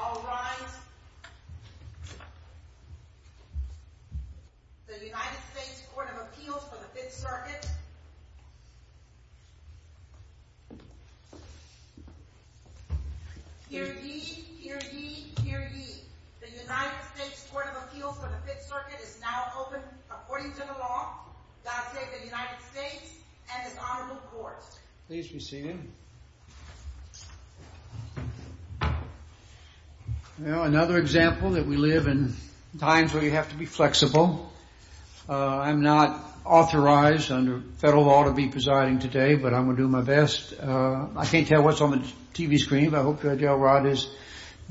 All rise. The United States Court of Appeals for the Fifth Circuit Hear ye, hear ye, hear ye. The United States Court of Appeals for the Fifth Circuit is now open according to the law, that of the United States and its Honorable Court. Please be seated. Well, another example that we live in times where you have to be flexible. I'm not authorized under federal law to be presiding today, but I'm going to do my best. I can't tell what's on the TV screen, but I hope Judge Elrod is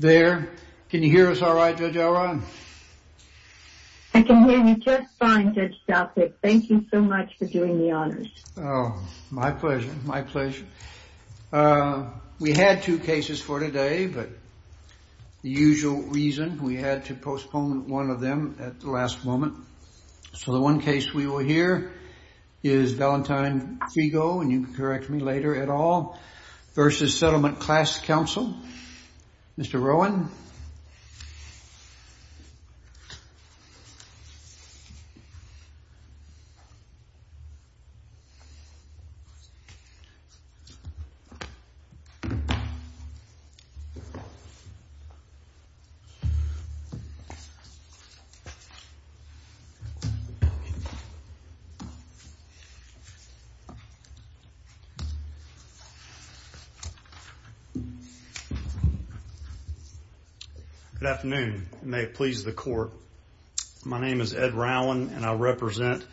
there. Can you hear us all right, Judge Elrod? I can hear you just fine, Judge Stoutfick. Thank you so much for doing the honors. Oh, my pleasure, my pleasure. We had two cases for today, but the usual reason, we had to postpone one of them at the last moment. So the one case we will hear is Valentine Figo, and you can correct me later at all, v. Settlement Class Cnsl. Mr. Rowan. Thank you. Good afternoon. My name is Ed Rowan, and I represent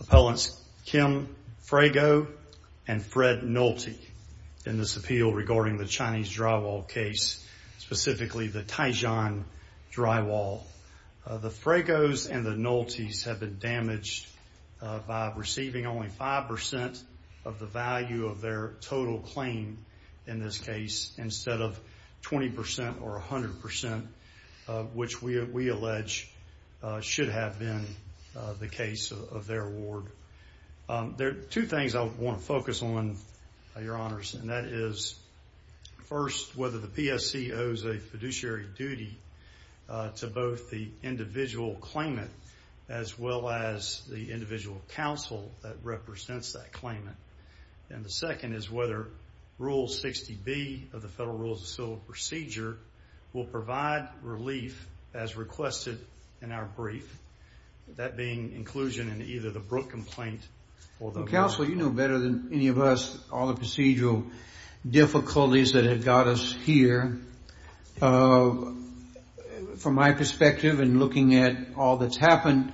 Appellants Kim Frago and Fred Nolte in this appeal regarding the Chinese drywall case, specifically the Taishan drywall. The Fragos and the Noltes have been damaged by receiving only 5% of the value of their total claim in this case instead of 20% or 100%, which we allege should have been the case of their award. There are two things I want to focus on, Your Honors, and that is first, whether the PSC owes a fiduciary duty to both the individual claimant as well as the individual counsel that represents that claimant. And the second is whether Rule 60B of the Federal Rules of Civil Procedure will provide relief as requested in our brief, that being inclusion in either the Brooke complaint or the... Counsel, you know better than any of us all the procedural difficulties that have got us here. From my perspective in looking at all that's happened,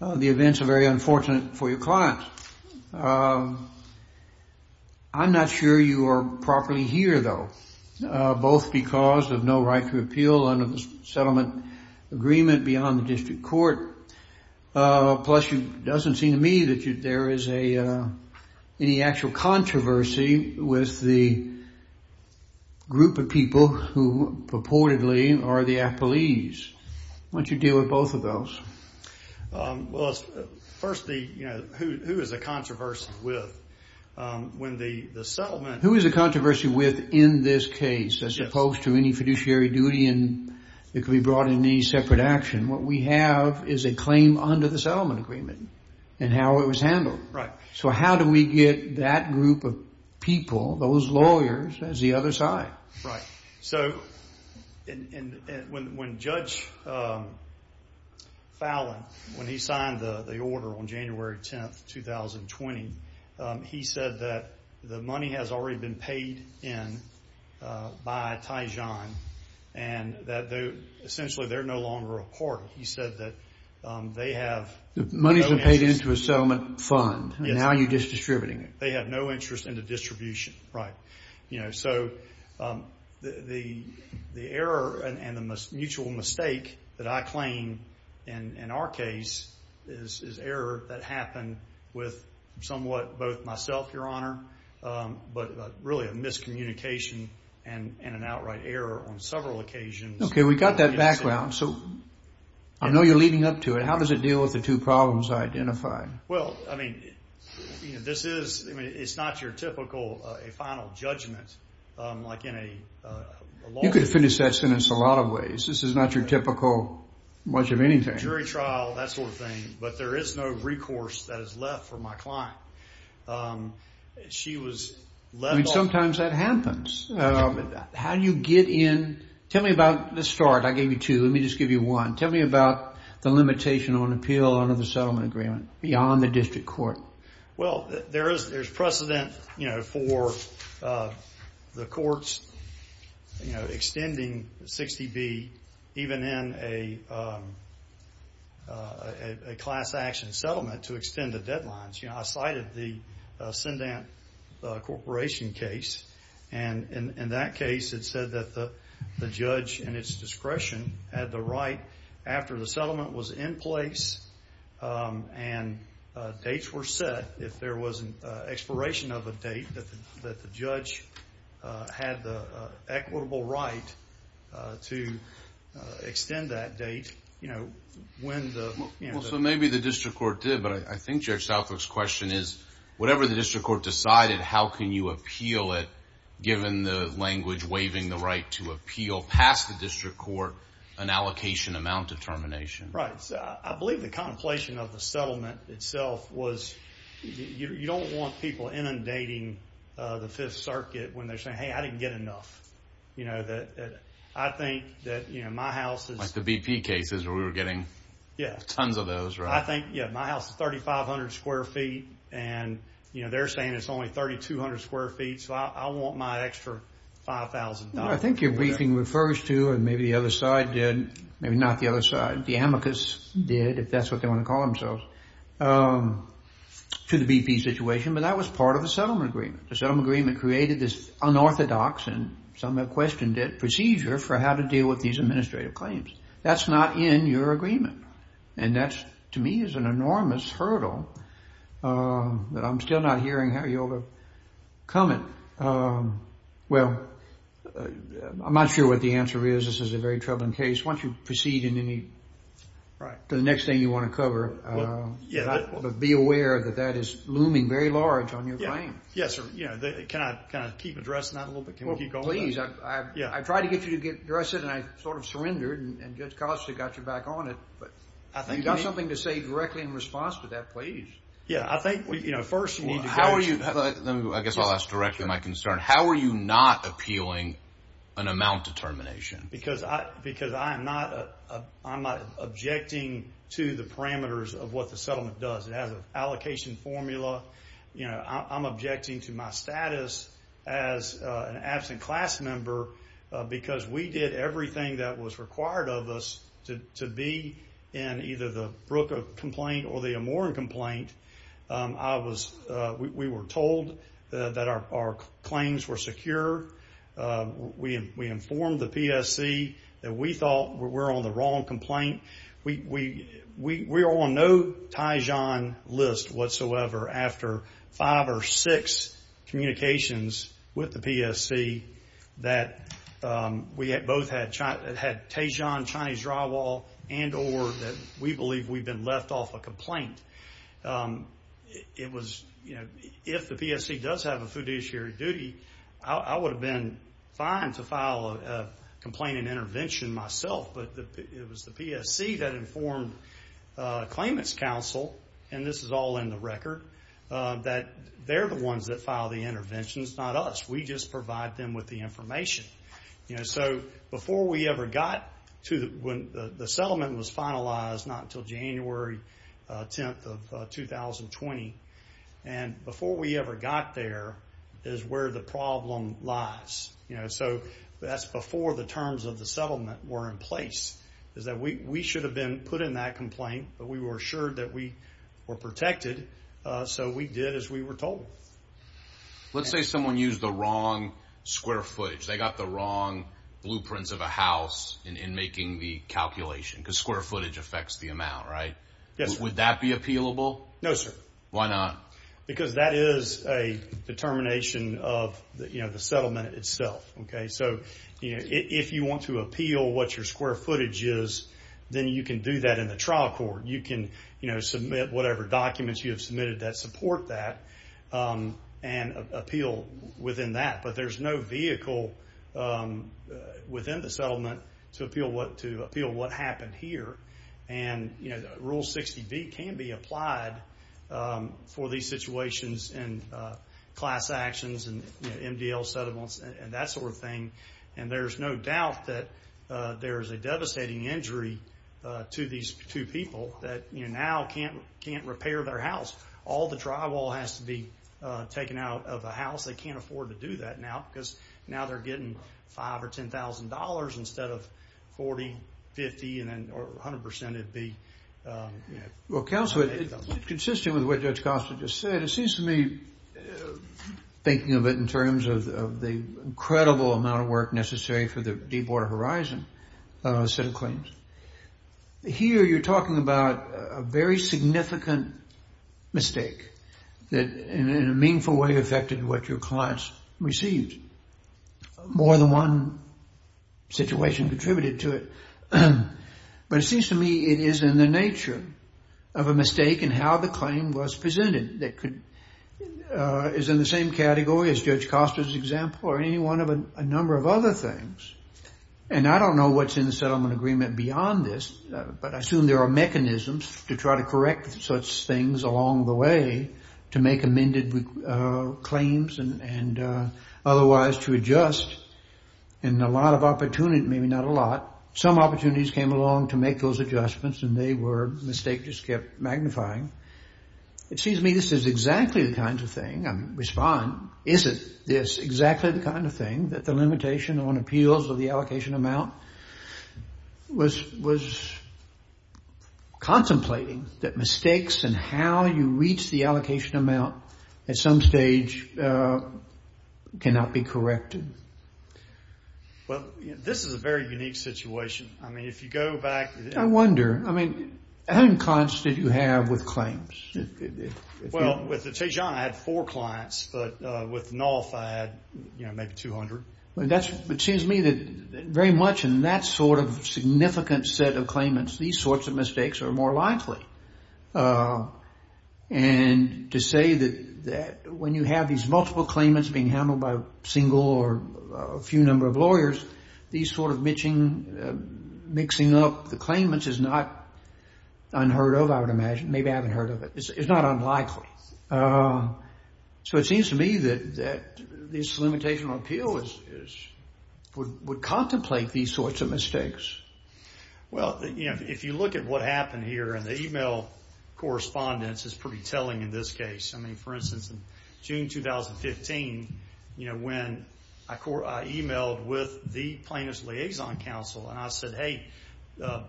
the events are very unfortunate for your clients. I'm not sure you are properly here, though, both because of no right to appeal under the settlement agreement beyond the district court, plus it doesn't seem to me that there is any actual controversy with the group of people who purportedly are the appellees. Why don't you deal with both of those? Well, first, who is the controversy with? Who is the controversy with in this case as opposed to any fiduciary duty that could be brought in any separate action? What we have is a claim under the settlement agreement and how it was handled. Right. So how do we get that group of people, those lawyers, as the other side? Right. So when Judge Fallon, when he signed the order on January 10, 2020, he said that the money has already been paid in by Tijan and that essentially they're no longer a court. He said that they have... The money has been paid into a settlement fund and now you're just distributing it. They have no interest in the distribution. Right. So the error and the mutual mistake that I claim in our case is error that happened with somewhat both myself, Your Honor, but really a miscommunication and an outright error on several occasions. Okay. We got that background. So I know you're leading up to it. How does it deal with the two problems I identified? Well, I mean, this is... It's not your typical final judgment like in a law... You could finish that sentence a lot of ways. This is not your typical much of anything. ...jury trial, that sort of thing, but there is no recourse that is left for my client. She was... I mean, sometimes that happens. How do you get in... Tell me about the start. I gave you two. Let me just give you one. Tell me about the limitation on appeal under the settlement agreement beyond the district court. Well, there is precedent for the courts extending 60B even in a class action settlement to extend the deadlines. I cited the Sundant Corporation case, and in that case it said that the judge, in its discretion, had the right after the settlement was in place and dates were set, if there was an expiration of a date, that the judge had the equitable right to extend that date when the... Well, so maybe the district court did, but I think Judge Southwick's question is whatever the district court decided, how can you appeal it, given the language waiving the right to appeal past the district court, an allocation amount determination? Right. I believe the contemplation of the settlement itself was you don't want people inundating the Fifth Circuit when they're saying, hey, I didn't get enough. I think that my house is... Like the BP cases where we were getting tons of those, right? I think, yeah, my house is 3,500 square feet, and they're saying it's only 3,200 square feet, so I want my extra $5,000. I think your briefing refers to, and maybe the other side did, maybe not the other side, the amicus did, if that's what they want to call themselves, to the BP situation, but that was part of the settlement agreement. The settlement agreement created this unorthodox, and some have questioned it, procedure for how to deal with these administrative claims. That's not in your agreement, and that, to me, is an enormous hurdle that I'm still not hearing how you overcome it. Well, I'm not sure what the answer is. This is a very troubling case. Why don't you proceed to the next thing you want to cover, but be aware that that is looming very large on your claim. Yes, sir. Can I keep addressing that a little bit? Please. I tried to get you to address it, and I sort of surrendered, and Judge Costa got you back on it, but you've got something to say directly in response to that. Please. Yeah, I think, you know, first, we need to go to- I guess I'll ask directly my concern. How are you not appealing an amount determination? Because I am not. I'm not objecting to the parameters of what the settlement does. It has an allocation formula. I'm objecting to my status as an absent class member because we did everything that was required of us to be in either the Brooke complaint or the Amoran complaint. We were told that our claims were secure. We informed the PSC that we thought we were on the wrong complaint. We were on no Taishan list whatsoever after five or six communications with the PSC that we both had Taishan Chinese drywall and or that we believe we've been left off a complaint. It was, you know, if the PSC does have a fiduciary duty, I would have been fine to file a complaint and intervention myself, but it was the PSC that informed claimants' counsel, and this is all in the record, that they're the ones that file the interventions, not us. We just provide them with the information. So before we ever got to when the settlement was finalized, not until January 10th of 2020, and before we ever got there is where the problem lies. You know, so that's before the terms of the settlement were in place is that we should have been put in that complaint, but we were assured that we were protected, so we did as we were told. Let's say someone used the wrong square footage. They got the wrong blueprints of a house in making the calculation because square footage affects the amount, right? Yes, sir. Would that be appealable? No, sir. Why not? Because that is a determination of the settlement itself, okay? So if you want to appeal what your square footage is, then you can do that in the trial court. You can submit whatever documents you have submitted that support that and appeal within that, but there's no vehicle within the settlement to appeal what happened here, and Rule 60B can be applied for these situations and class actions and MDL settlements and that sort of thing, and there's no doubt that there is a devastating injury to these two people that now can't repair their house. All the drywall has to be taken out of the house. They can't afford to do that now because now they're getting $5,000 or $10,000 instead of $40,000, $50,000, or 100% it would be. Well, Counselor, it's consistent with what Judge Costa just said. It seems to me, thinking of it in terms of the incredible amount of work necessary for the Deepwater Horizon set of claims, here you're talking about a very significant mistake that in a meaningful way affected what your clients received. More than one situation contributed to it, but it seems to me it is in the nature of a mistake in how the claim was presented. It's in the same category as Judge Costa's example or any one of a number of other things, and I don't know what's in the settlement agreement beyond this, but I assume there are mechanisms to try to correct such things along the way to make amended claims and otherwise to adjust, and a lot of opportunity, maybe not a lot, some opportunities came along to make those adjustments and they were mistakes that just kept magnifying. It seems to me this is exactly the kind of thing, I mean respond, is it this exactly the kind of thing that the limitation on appeals or the allocation amount was contemplating, that mistakes and how you reach the allocation amount at some stage cannot be corrected? Well, this is a very unique situation. I mean, if you go back... I wonder, I mean, how many clients did you have with claims? Well, with the Tejan I had four clients, but with NOLF I had maybe 200. It seems to me that very much in that sort of significant set of claimants, these sorts of mistakes are more likely, and to say that when you have these multiple claimants being handled by a single or a few number of lawyers, these sort of mixing up the claimants is not unheard of, I would imagine. Maybe I haven't heard of it. It's not unlikely. So it seems to me that this limitation on appeal would contemplate these sorts of mistakes. Well, if you look at what happened here, and the email correspondence is pretty telling in this case. I mean, for instance, in June 2015, when I emailed with the Plaintiff's Liaison Council and I said, hey,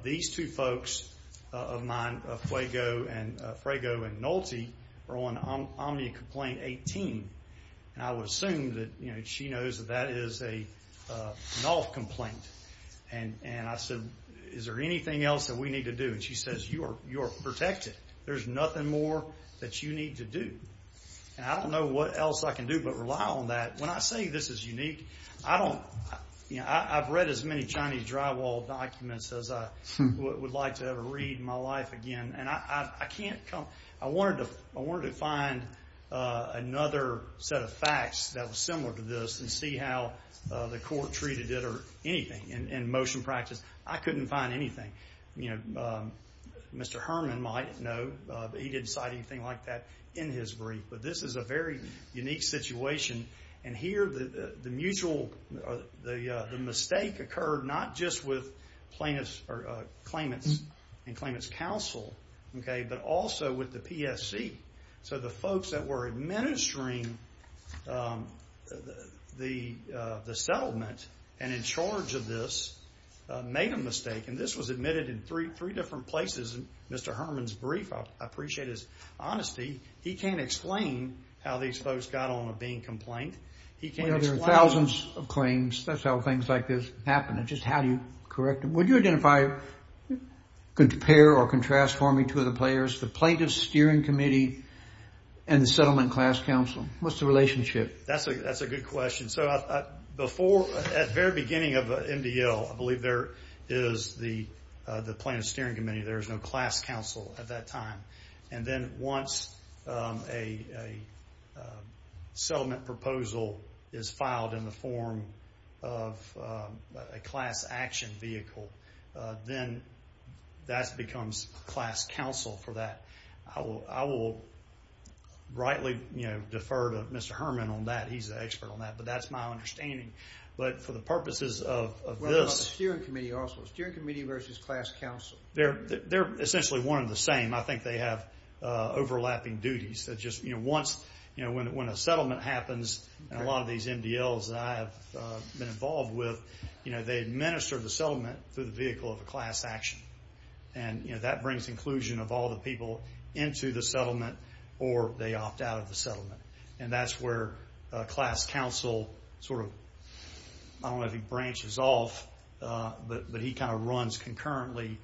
these two folks of mine, Fuego and Nolte, are on Omnia Complaint 18, and I would assume that she knows that that is a NOLF complaint. And I said, is there anything else that we need to do? And she says, you're protected. There's nothing more that you need to do. And I don't know what else I can do but rely on that. When I say this is unique, I've read as many Chinese drywall documents as I would like to ever read in my life again, and I can't come up. I wanted to find another set of facts that was similar to this and see how the court treated it or anything. In motion practice, I couldn't find anything. You know, Mr. Herman might know, but he didn't cite anything like that in his brief. But this is a very unique situation, and here the mistake occurred not just with claimants and claimants' counsel, but also with the PSC. So the folks that were administering the settlement and in charge of this made a mistake, and this was admitted in three different places in Mr. Herman's brief. I appreciate his honesty. He can't explain how these folks got on with being complained. He can't explain. Well, there are thousands of claims. That's how things like this happen. Just how do you correct them? Would you identify, compare or contrast for me two of the players, the Plaintiff's Steering Committee and the Settlement Class Counsel? What's the relationship? That's a good question. At the very beginning of MDL, I believe there is the Plaintiff's Steering Committee. There was no Class Counsel at that time. And then once a settlement proposal is filed in the form of a class action vehicle, then that becomes Class Counsel for that. I will rightly defer to Mr. Herman on that. He's an expert on that. But that's my understanding. But for the purposes of this. What about the Steering Committee also? Steering Committee versus Class Counsel. They're essentially one and the same. I think they have overlapping duties. Once when a settlement happens, and a lot of these MDLs that I have been involved with, they administer the settlement through the vehicle of a class action. And that brings inclusion of all the people into the settlement or they opt out of the settlement. And that's where Class Counsel sort of, I don't know if he branches off, but he kind of runs concurrently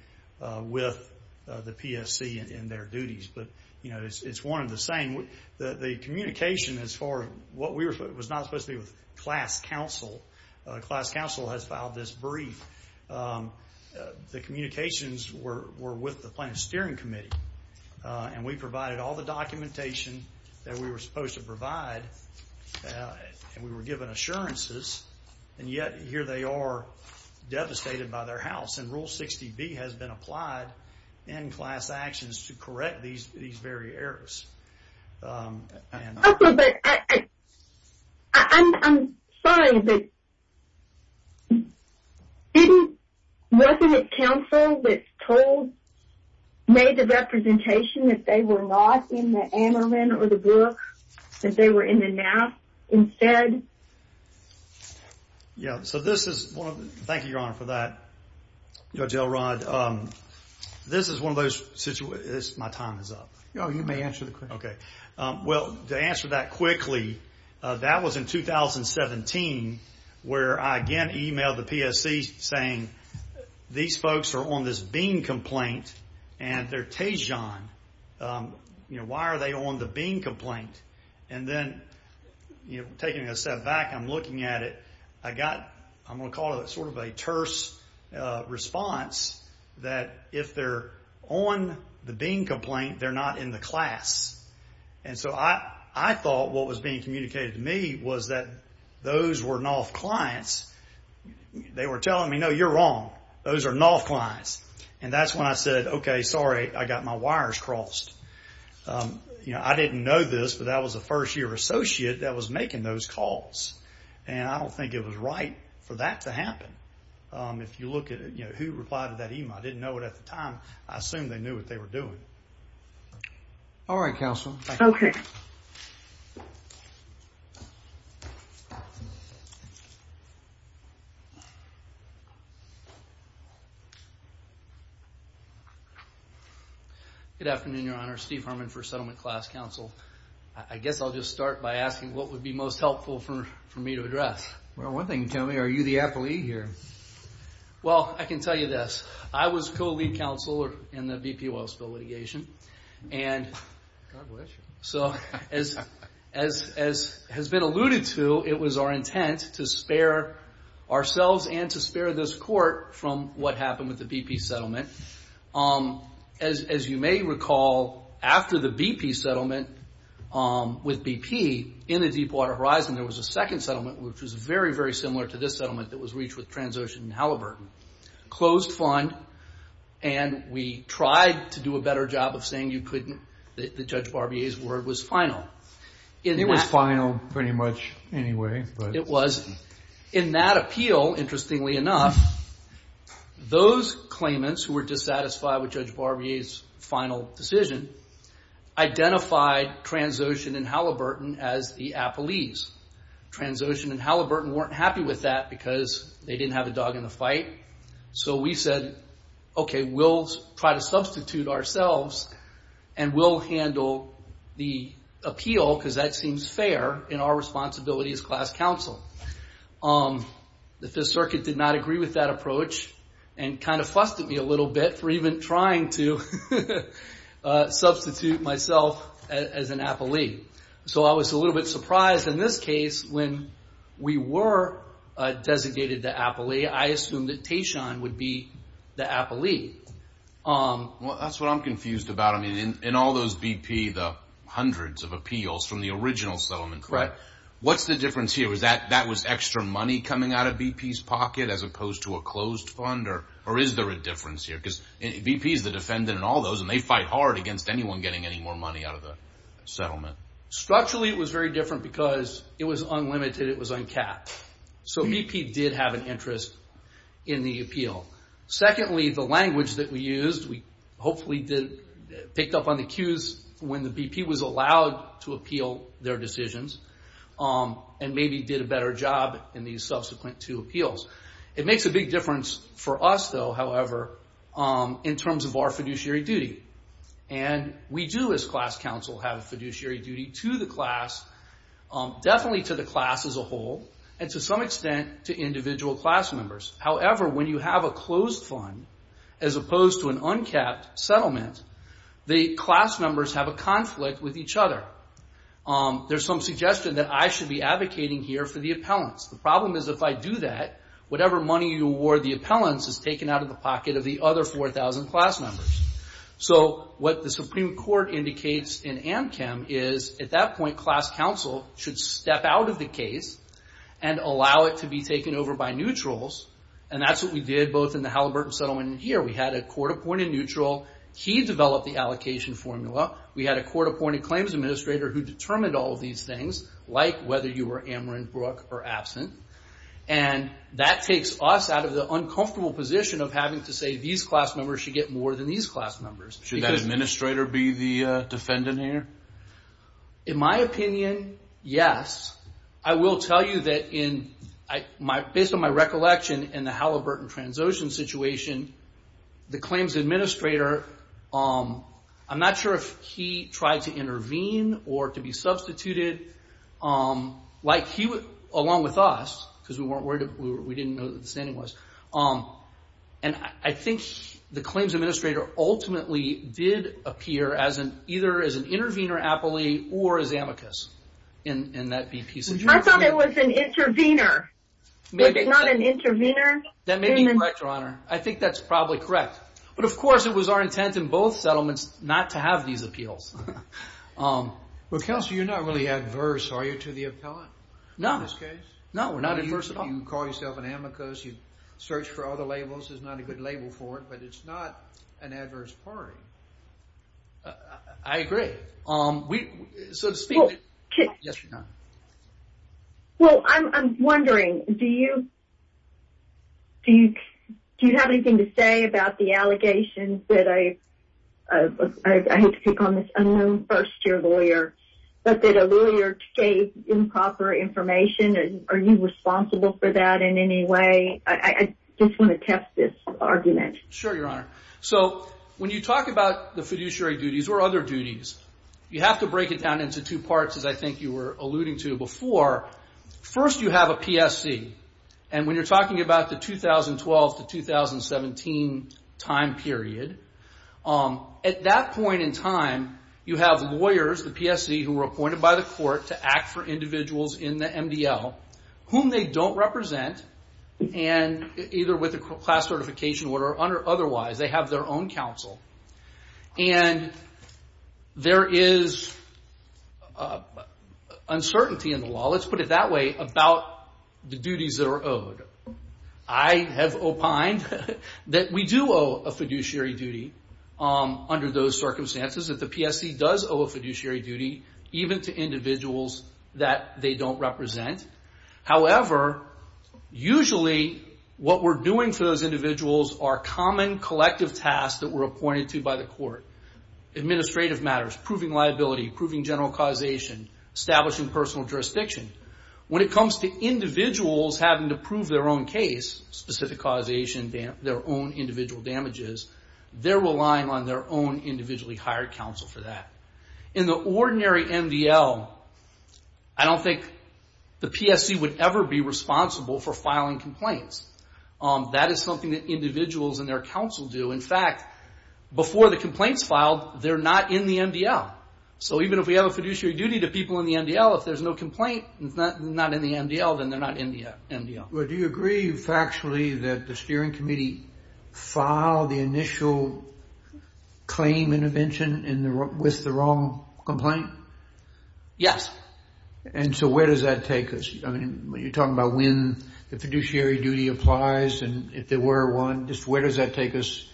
with the PSC in their duties. But it's one and the same. The communication as far as what we were supposed to do with Class Counsel, Class Counsel has filed this brief. The communications were with the Planning and Steering Committee. And we provided all the documentation that we were supposed to provide. And we were given assurances. And yet here they are devastated by their house. And Rule 60B has been applied in class actions to correct these very errors. I'm sorry, but wasn't it counsel that made the representation that they were not in the annulment or the book, that they were in the NAF instead? Yeah. So this is one of the – thank you, Your Honor, for that, Judge Elrod. This is one of those – my time is up. No, you may answer the question. Okay. Well, to answer that quickly, that was in 2017, where I again emailed the PSC saying, these folks are on this BEAN complaint and they're TAJON. Why are they on the BEAN complaint? And then taking a step back, I'm looking at it. I got, I'm going to call it sort of a terse response that if they're on the BEAN complaint, they're not in the class. And so I thought what was being communicated to me was that those were NAF clients. They were telling me, no, you're wrong. Those are NAF clients. And that's when I said, okay, sorry, I got my wires crossed. You know, I didn't know this, but that was a first-year associate that was making those calls. And I don't think it was right for that to happen. If you look at it, you know, who replied to that email? I didn't know it at the time. I assume they knew what they were doing. All right, Counsel. Okay. Good afternoon, Your Honor. Steve Harmon for Settlement Class Counsel. I guess I'll just start by asking what would be most helpful for me to address. Well, one thing you can tell me, are you the appellee here? Well, I can tell you this. I was co-lead counsel in the BP oil spill litigation. And so as has been alluded to, it was our intent to spare ourselves and to spare this court from what happened with the BP settlement. As you may recall, after the BP settlement with BP, in the Deepwater Horizon there was a second settlement, which was very, very similar to this settlement that was reached with Transocean and Halliburton. Closed fund, and we tried to do a better job of saying you couldn't, that Judge Barbier's word was final. It was final pretty much anyway. It was. In that appeal, interestingly enough, those claimants who were dissatisfied with Judge Barbier's final decision identified Transocean and Halliburton as the appellees. Transocean and Halliburton weren't happy with that because they didn't have a dog in the fight. So we said, okay, we'll try to substitute ourselves and we'll handle the appeal because that seems fair in our responsibility as class counsel. The Fifth Circuit did not agree with that approach and kind of fussed at me a little bit for even trying to substitute myself as an appellee. So I was a little bit surprised. In this case, when we were designated the appellee, I assumed that Tatian would be the appellee. Well, that's what I'm confused about. I mean, in all those BP, the hundreds of appeals from the original settlement, what's the difference here? Was that extra money coming out of BP's pocket as opposed to a closed fund, or is there a difference here? Because BP is the defendant in all those, and they fight hard against anyone getting any more money out of the settlement. Structurally, it was very different because it was unlimited. It was uncapped. So BP did have an interest in the appeal. Secondly, the language that we used, we hopefully picked up on the cues when the BP was allowed to appeal their decisions and maybe did a better job in these subsequent two appeals. It makes a big difference for us, though, however, in terms of our fiduciary duty. And we do, as class counsel, have a fiduciary duty to the class, definitely to the class as a whole, and to some extent to individual class members. However, when you have a closed fund as opposed to an uncapped settlement, the class members have a conflict with each other. There's some suggestion that I should be advocating here for the appellants. The problem is if I do that, whatever money you award the appellants is taken out of the pocket of the other 4,000 class members. So what the Supreme Court indicates in AMCM is, at that point, class counsel should step out of the case and allow it to be taken over by neutrals, and that's what we did both in the Halliburton settlement and here. We had a court-appointed neutral. He developed the allocation formula. We had a court-appointed claims administrator who determined all of these things, like whether you were Amerenbrook or absent. And that takes us out of the uncomfortable position of having to say, these class members should get more than these class members. Should that administrator be the defendant here? In my opinion, yes. I will tell you that, based on my recollection in the Halliburton transocean situation, or to be substituted, like he would along with us, because we didn't know who the standing was. And I think the claims administrator ultimately did appear either as an intervener appellee or as amicus in that case. I thought it was an intervener. It's not an intervener? That may be correct, Your Honor. I think that's probably correct. But, of course, it was our intent in both settlements not to have these appeals. Well, Counselor, you're not really adverse, are you, to the appellant in this case? No, we're not adverse at all. You call yourself an amicus. You search for other labels. There's not a good label for it, but it's not an adverse party. I agree. Well, I'm wondering, do you have anything to say about the allegations that I, I hate to pick on this unknown first-year lawyer, but that a lawyer gave improper information? Are you responsible for that in any way? I just want to test this argument. Sure, Your Honor. So when you talk about the fiduciary duties or other duties, you have to break it down into two parts, as I think you were alluding to before. First, you have a PSC. And when you're talking about the 2012 to 2017 time period, at that point in time, you have lawyers, the PSC, who were appointed by the court to act for individuals in the MDL, whom they don't represent, either with a class certification or otherwise. They have their own counsel. And there is uncertainty in the law, let's put it that way, about the duties that are owed. I have opined that we do owe a fiduciary duty under those circumstances, that the PSC does owe a fiduciary duty even to individuals that they don't represent. However, usually what we're doing for those individuals are common collective tasks that we're appointed to by the court, administrative matters, proving liability, proving general causation, establishing personal jurisdiction. When it comes to individuals having to prove their own case, specific causation, their own individual damages, they're relying on their own individually hired counsel for that. In the ordinary MDL, I don't think the PSC would ever be responsible for filing complaints. That is something that individuals and their counsel do. In fact, before the complaints filed, they're not in the MDL. So even if we have a fiduciary duty to people in the MDL, if there's no complaint, it's not in the MDL, then they're not in the MDL. Well, do you agree factually that the steering committee filed the initial claim intervention with the wrong complaint? Yes. And so where does that take us? I mean, you're talking about when the fiduciary duty applies and if there were one, just where does that take us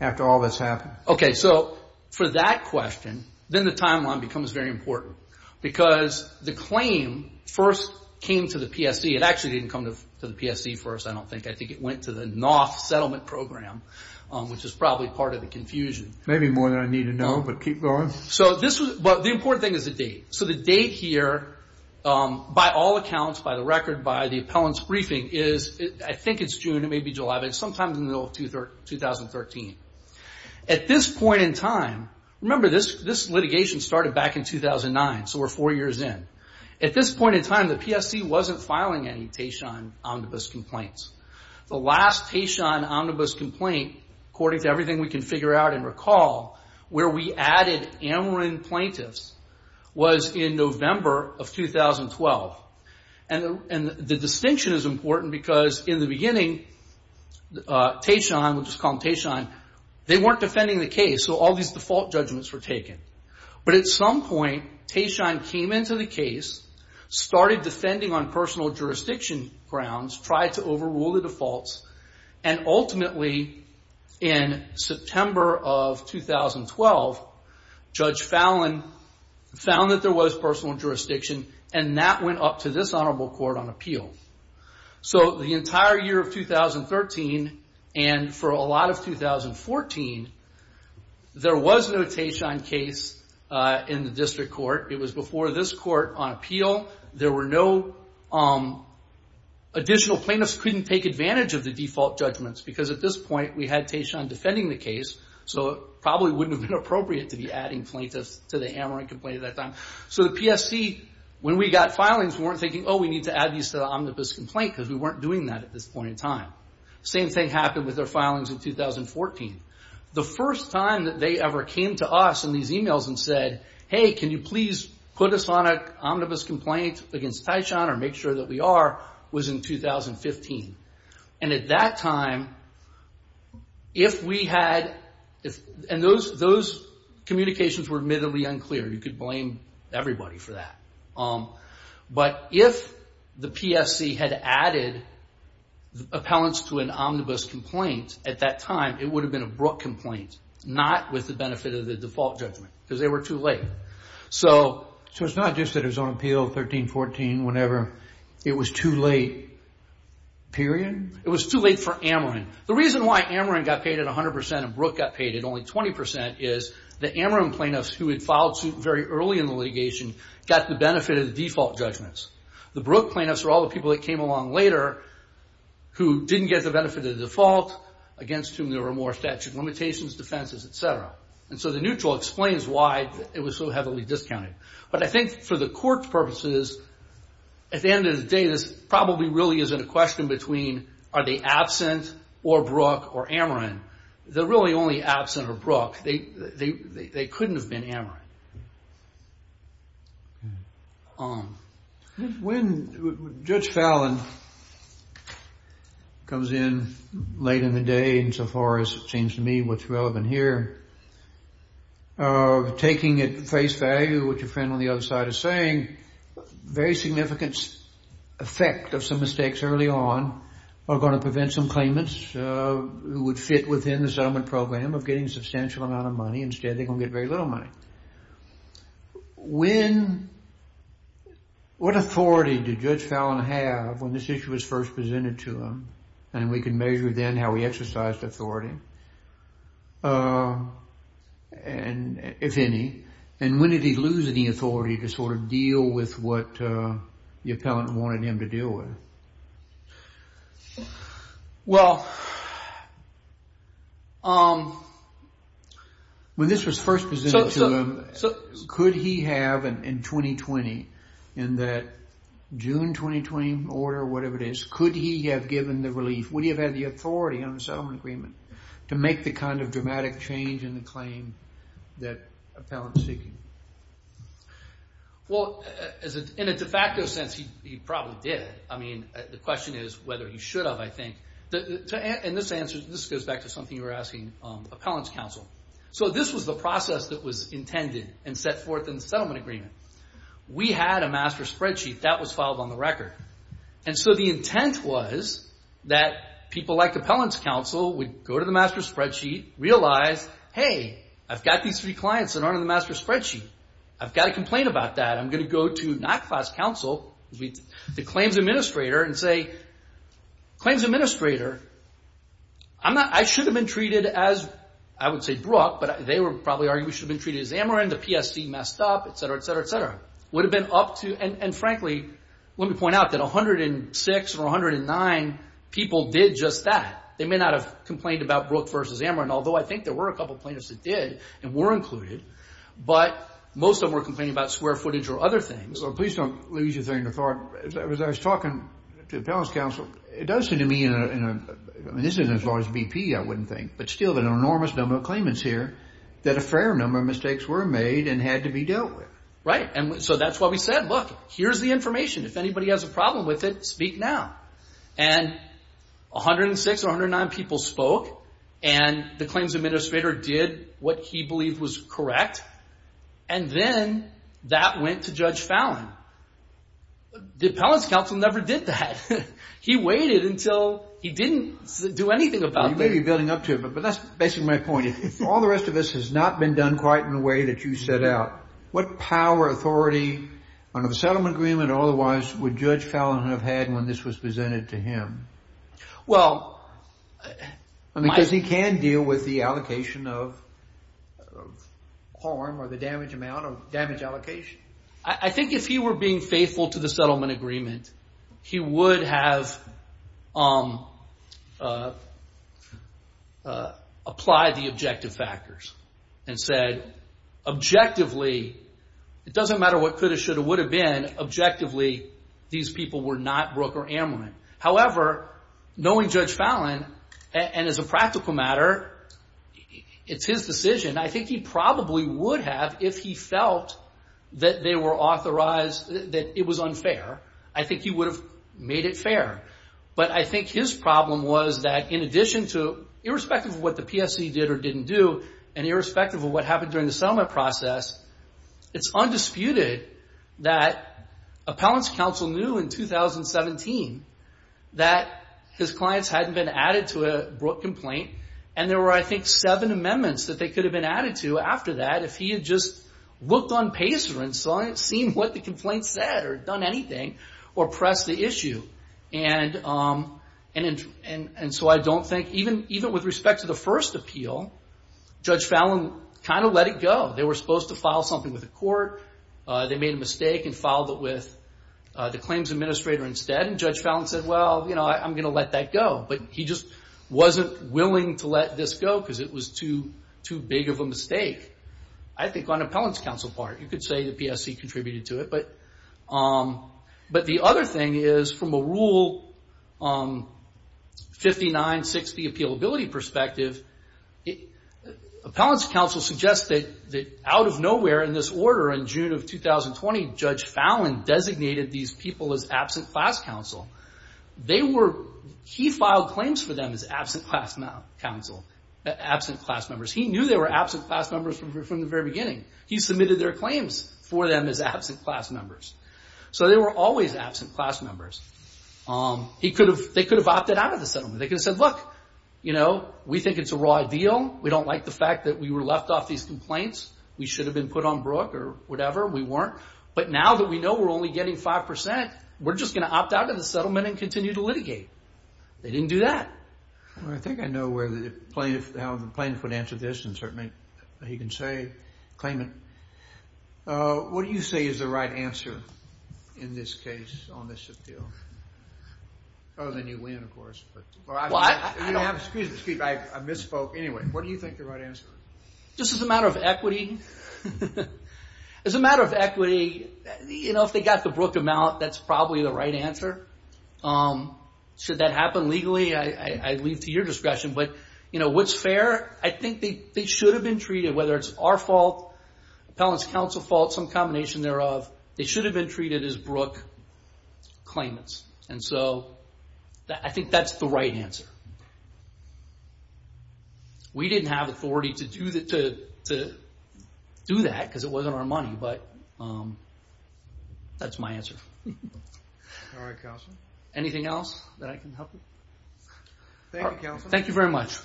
after all that's happened? Okay. So for that question, then the timeline becomes very important because the claim first came to the PSC. It actually didn't come to the PSC first, I don't think. I think it went to the NOF settlement program, which is probably part of the confusion. Maybe more than I need to know, but keep going. The important thing is the date. So the date here, by all accounts, by the record, by the appellant's briefing, is I think it's June, it may be July, but it's sometime in the middle of 2013. At this point in time, remember this litigation started back in 2009, so we're four years in. At this point in time, the PSC wasn't filing any Tashon omnibus complaints. The last Tashon omnibus complaint, according to everything we can figure out and recall, where we added Ameren plaintiffs was in November of 2012. And the distinction is important because in the beginning, Tashon, we'll just call him Tashon, they weren't defending the case, so all these default judgments were taken. But at some point, Tashon came into the case, started defending on personal jurisdiction grounds, tried to overrule the defaults, and ultimately, in September of 2012, Judge Fallon found that there was personal jurisdiction, and that went up to this honorable court on appeal. The entire year of 2013, and for a lot of 2014, there was no Tashon case in the district court. It was before this court on appeal. There were no additional plaintiffs who couldn't take advantage of the default judgments because at this point, we had Tashon defending the case, so it probably wouldn't have been appropriate to be adding plaintiffs to the Ameren complaint at that time. So the PSC, when we got filings, weren't thinking, oh, we need to add these to the omnibus complaint because we weren't doing that at this point in time. Same thing happened with their filings in 2014. The first time that they ever came to us in these emails and said, hey, can you please put us on an omnibus complaint against Tashon or make sure that we are, was in 2015. And at that time, if we had, and those communications were admittedly unclear. You could blame everybody for that. But if the PSC had added appellants to an omnibus complaint at that time, it would have been a Brooke complaint, not with the benefit of the default judgment because they were too late. So it's not just that it was on appeal 13-14 whenever it was too late, period? It was too late for Ameren. The reason why Ameren got paid at 100% and Brooke got paid at only 20% is the Ameren plaintiffs who had filed suit very early in the litigation got the benefit of the default judgments. The Brooke plaintiffs are all the people that came along later who didn't get the benefit of the default, against whom there were more statute of limitations, defenses, et cetera. And so the neutral explains why it was so heavily discounted. But I think for the court's purposes, at the end of the day, this probably really isn't a question between are they absent or Brooke or Ameren. They're really only absent or Brooke. They couldn't have been Ameren. When Judge Fallin comes in late in the day, and so far as it seems to me what's relevant here, taking at face value what your friend on the other side is saying, very significant effect of some mistakes early on are going to prevent some claimants who would fit within the settlement program of getting a substantial amount of money. Instead, they're going to get very little money. What authority did Judge Fallin have when this issue was first presented to him? And we can measure then how he exercised authority, if any. And when did he lose any authority to sort of deal with what the appellant wanted him to deal with? Well, when this was first presented to him, could he have in 2020, in that June 2020 order, whatever it is, could he have given the relief? Would he have had the authority on the settlement agreement to make the kind of dramatic change in the claim that appellant was seeking? Well, in a de facto sense, he probably did. I mean, the question is whether he should have, I think. And this goes back to something you were asking appellant's counsel. So this was the process that was intended and set forth in the settlement agreement. We had a master spreadsheet that was filed on the record. And so the intent was that people like appellant's counsel would go to the master spreadsheet, realize, hey, I've got these three clients that aren't in the master spreadsheet. I've got to complain about that. I'm going to go to not class counsel, the claims administrator and say, claims administrator, I should have been treated as, I would say, Brooke, but they would probably argue we should have been treated as Amarin. The PSC messed up, et cetera, et cetera, et cetera. Would have been up to, and frankly, let me point out that 106 or 109 people did just that. They may not have complained about Brooke versus Amarin, although I think there were a couple plaintiffs that did and were included. But most of them were complaining about square footage or other things. Please don't lose your train of thought. As I was talking to appellant's counsel, it does seem to me, and this isn't as large a BP, I wouldn't think, but still an enormous number of claimants here that a fair number of mistakes were made and had to be dealt with. Right, and so that's why we said, look, here's the information. If anybody has a problem with it, speak now. And 106 or 109 people spoke, and the claims administrator did what he believed was correct, and then that went to Judge Fallon. The appellant's counsel never did that. He waited until he didn't do anything about it. You may be building up to it, but that's basically my point. If all the rest of this has not been done quite in the way that you set out, what power, authority under the settlement agreement or otherwise would Judge Fallon have had when this was presented to him? Because he can deal with the allocation of harm or the damage amount or damage allocation. I think if he were being faithful to the settlement agreement, he would have applied the objective factors and said, objectively, it doesn't matter what could have, should have, would have been, objectively, these people were not Brooke or Ammerman. However, knowing Judge Fallon, and as a practical matter, it's his decision. I think he probably would have if he felt that they were authorized, that it was unfair. I think he would have made it fair. But I think his problem was that in addition to, irrespective of what the PSC did or didn't do, and irrespective of what happened during the settlement process, it's undisputed that appellant's counsel knew in 2017 that his clients hadn't been added to a Brooke complaint, and there were, I think, seven amendments that they could have been added to after that if he had just looked on PACER and seen what the complaint said or done anything or pressed the issue. And so I don't think, even with respect to the first appeal, Judge Fallon kind of let it go. They were supposed to file something with the court. They made a mistake and filed it with the claims administrator instead. And Judge Fallon said, well, you know, I'm going to let that go. But he just wasn't willing to let this go because it was too big of a mistake. I think on appellant's counsel part, you could say the PSC contributed to it. But the other thing is, from a Rule 5960 appealability perspective, appellant's counsel suggested that out of nowhere in this order in June of 2020, Judge Fallon designated these people as absent class counsel. He filed claims for them as absent class members. He knew they were absent class members from the very beginning. He submitted their claims for them as absent class members. So they were always absent class members. They could have opted out of the settlement. They could have said, look, you know, we think it's a raw deal. We don't like the fact that we were left off these complaints. We should have been put on Brooke or whatever. We weren't. But now that we know we're only getting 5%, we're just going to opt out of the settlement and continue to litigate. They didn't do that. Well, I think I know how the plaintiff would answer this, and certainly he can claim it. What do you say is the right answer in this case on this deal? Oh, then you win, of course. Excuse me, I misspoke. Just as a matter of equity. As a matter of equity, you know, if they got the Brooke amount, that's probably the right answer. Should that happen legally, I leave to your discretion. But, you know, what's fair? I think they should have been treated, whether it's our fault, appellant's counsel fault, some combination thereof, they should have been treated as Brooke claimants. And so I think that's the right answer. We didn't have authority to do that because it wasn't our money, but that's my answer. All right, counsel. Anything else that I can help with? Thank you, counsel. Thank you very much.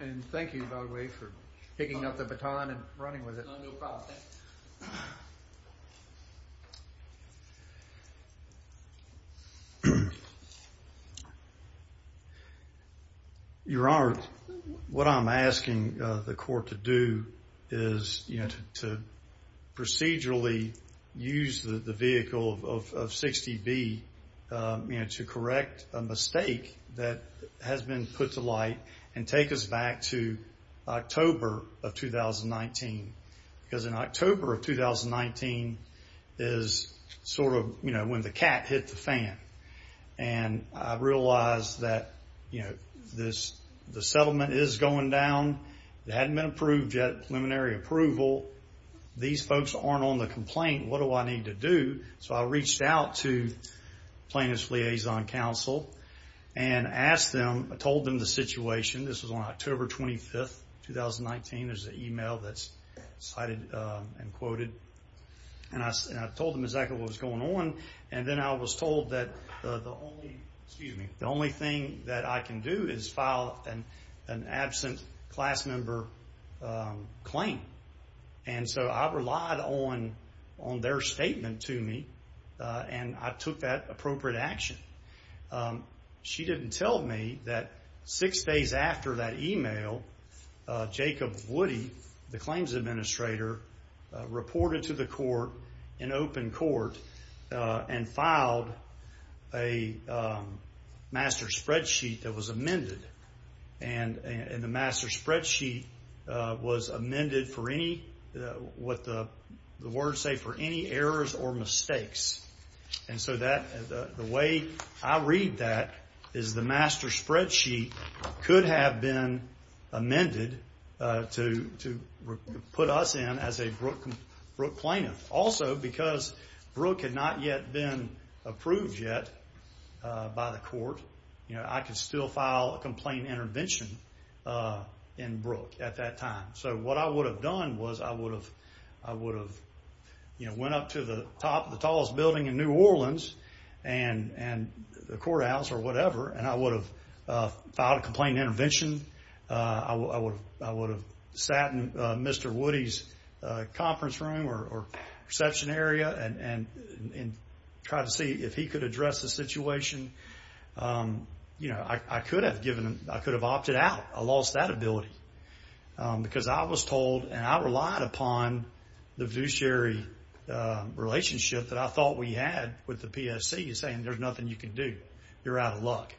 And thank you, by the way, for picking up the baton and running with it. No problem. Your Honor, what I'm asking the court to do is, you know, to procedurally use the vehicle of 60B, you know, to correct a mistake that has been put to light and take us back to October of 2019. Because in October of 2019 is sort of, you know, when the cat hit the fan. And I realized that, you know, the settlement is going down. It hadn't been approved yet, preliminary approval. These folks aren't on the complaint. What do I need to do? So I reached out to plaintiff's liaison counsel and asked them, told them the situation. This was on October 25th, 2019. There's an email that's cited and quoted. And I told them exactly what was going on. And then I was told that the only thing that I can do is file an absent class member claim. And so I relied on their statement to me, and I took that appropriate action. She didn't tell me that six days after that email, Jacob Woody, the claims administrator, reported to the court in open court and filed a master spreadsheet that was amended. And the master spreadsheet was amended for any, what the words say, for any errors or mistakes. And so the way I read that is the master spreadsheet could have been amended to put us in as a Brooke plaintiff. Also, because Brooke had not yet been approved yet by the court, I could still file a complaint intervention in Brooke at that time. So what I would have done was I would have, you know, went up to the top of the tallest building in New Orleans and the courthouse or whatever, and I would have filed a complaint intervention. I would have sat in Mr. Woody's conference room or reception area and tried to see if he could address the situation. You know, I could have opted out. I lost that ability because I was told, and I relied upon the fiduciary relationship that I thought we had with the PSC saying there's nothing you can do. You're out of luck.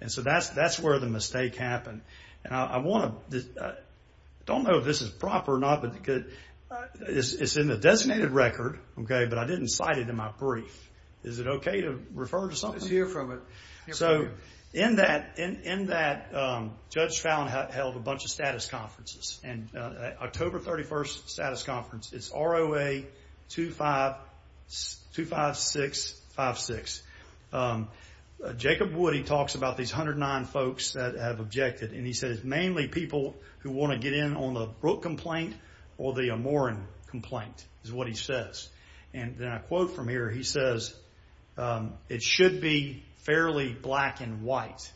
And so that's where the mistake happened. And I want to, I don't know if this is proper or not, but it's in the designated record, okay, but I didn't cite it in my brief. Is it okay to refer to something? Let's hear from it. So in that, Judge Fallin held a bunch of status conferences, and October 31st status conference, it's ROA 25656. Jacob Woody talks about these 109 folks that have objected, and he says mainly people who want to get in on the Brooke complaint or the Amoran complaint is what he says. And then I quote from here, he says, it should be fairly black and white,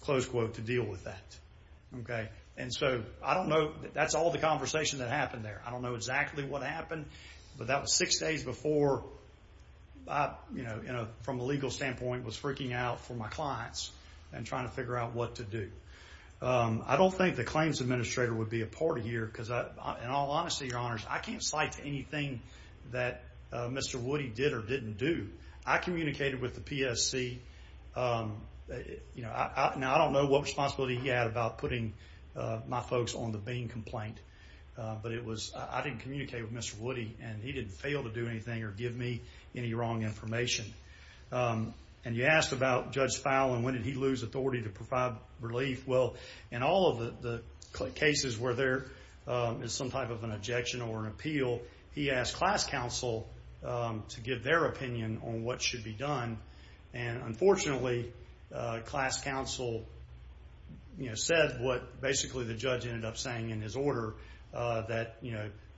close quote, to deal with that. And so I don't know, that's all the conversation that happened there. I don't know exactly what happened, but that was six days before I, from a legal standpoint, was freaking out for my clients and trying to figure out what to do. I don't think the claims administrator would be a part of here because, in all honesty, your honors, I can't cite anything that Mr. Woody did or didn't do. I communicated with the PSC. Now, I don't know what responsibility he had about putting my folks on the Bean complaint, but I didn't communicate with Mr. Woody, and he didn't fail to do anything or give me any wrong information. And you asked about Judge Fowle and when did he lose authority to provide relief. Well, in all of the cases where there is some type of an objection or an appeal, he asked class counsel to give their opinion on what should be done, and, unfortunately, class counsel said what, basically, the judge ended up saying in his order, that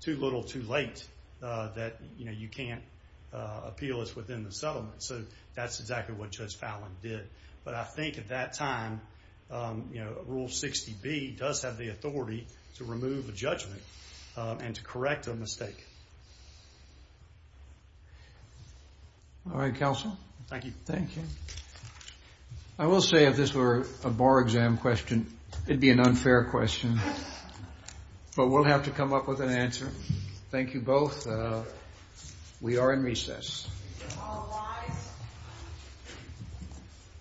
too little too late, that you can't appeal this within the settlement. So that's exactly what Judge Fowle did. But I think at that time Rule 60B does have the authority to remove a judgment and to correct a mistake. All right, counsel. Thank you. Thank you. I will say if this were a bar exam question, it would be an unfair question, but we'll have to come up with an answer. Thank you both. We are in recess.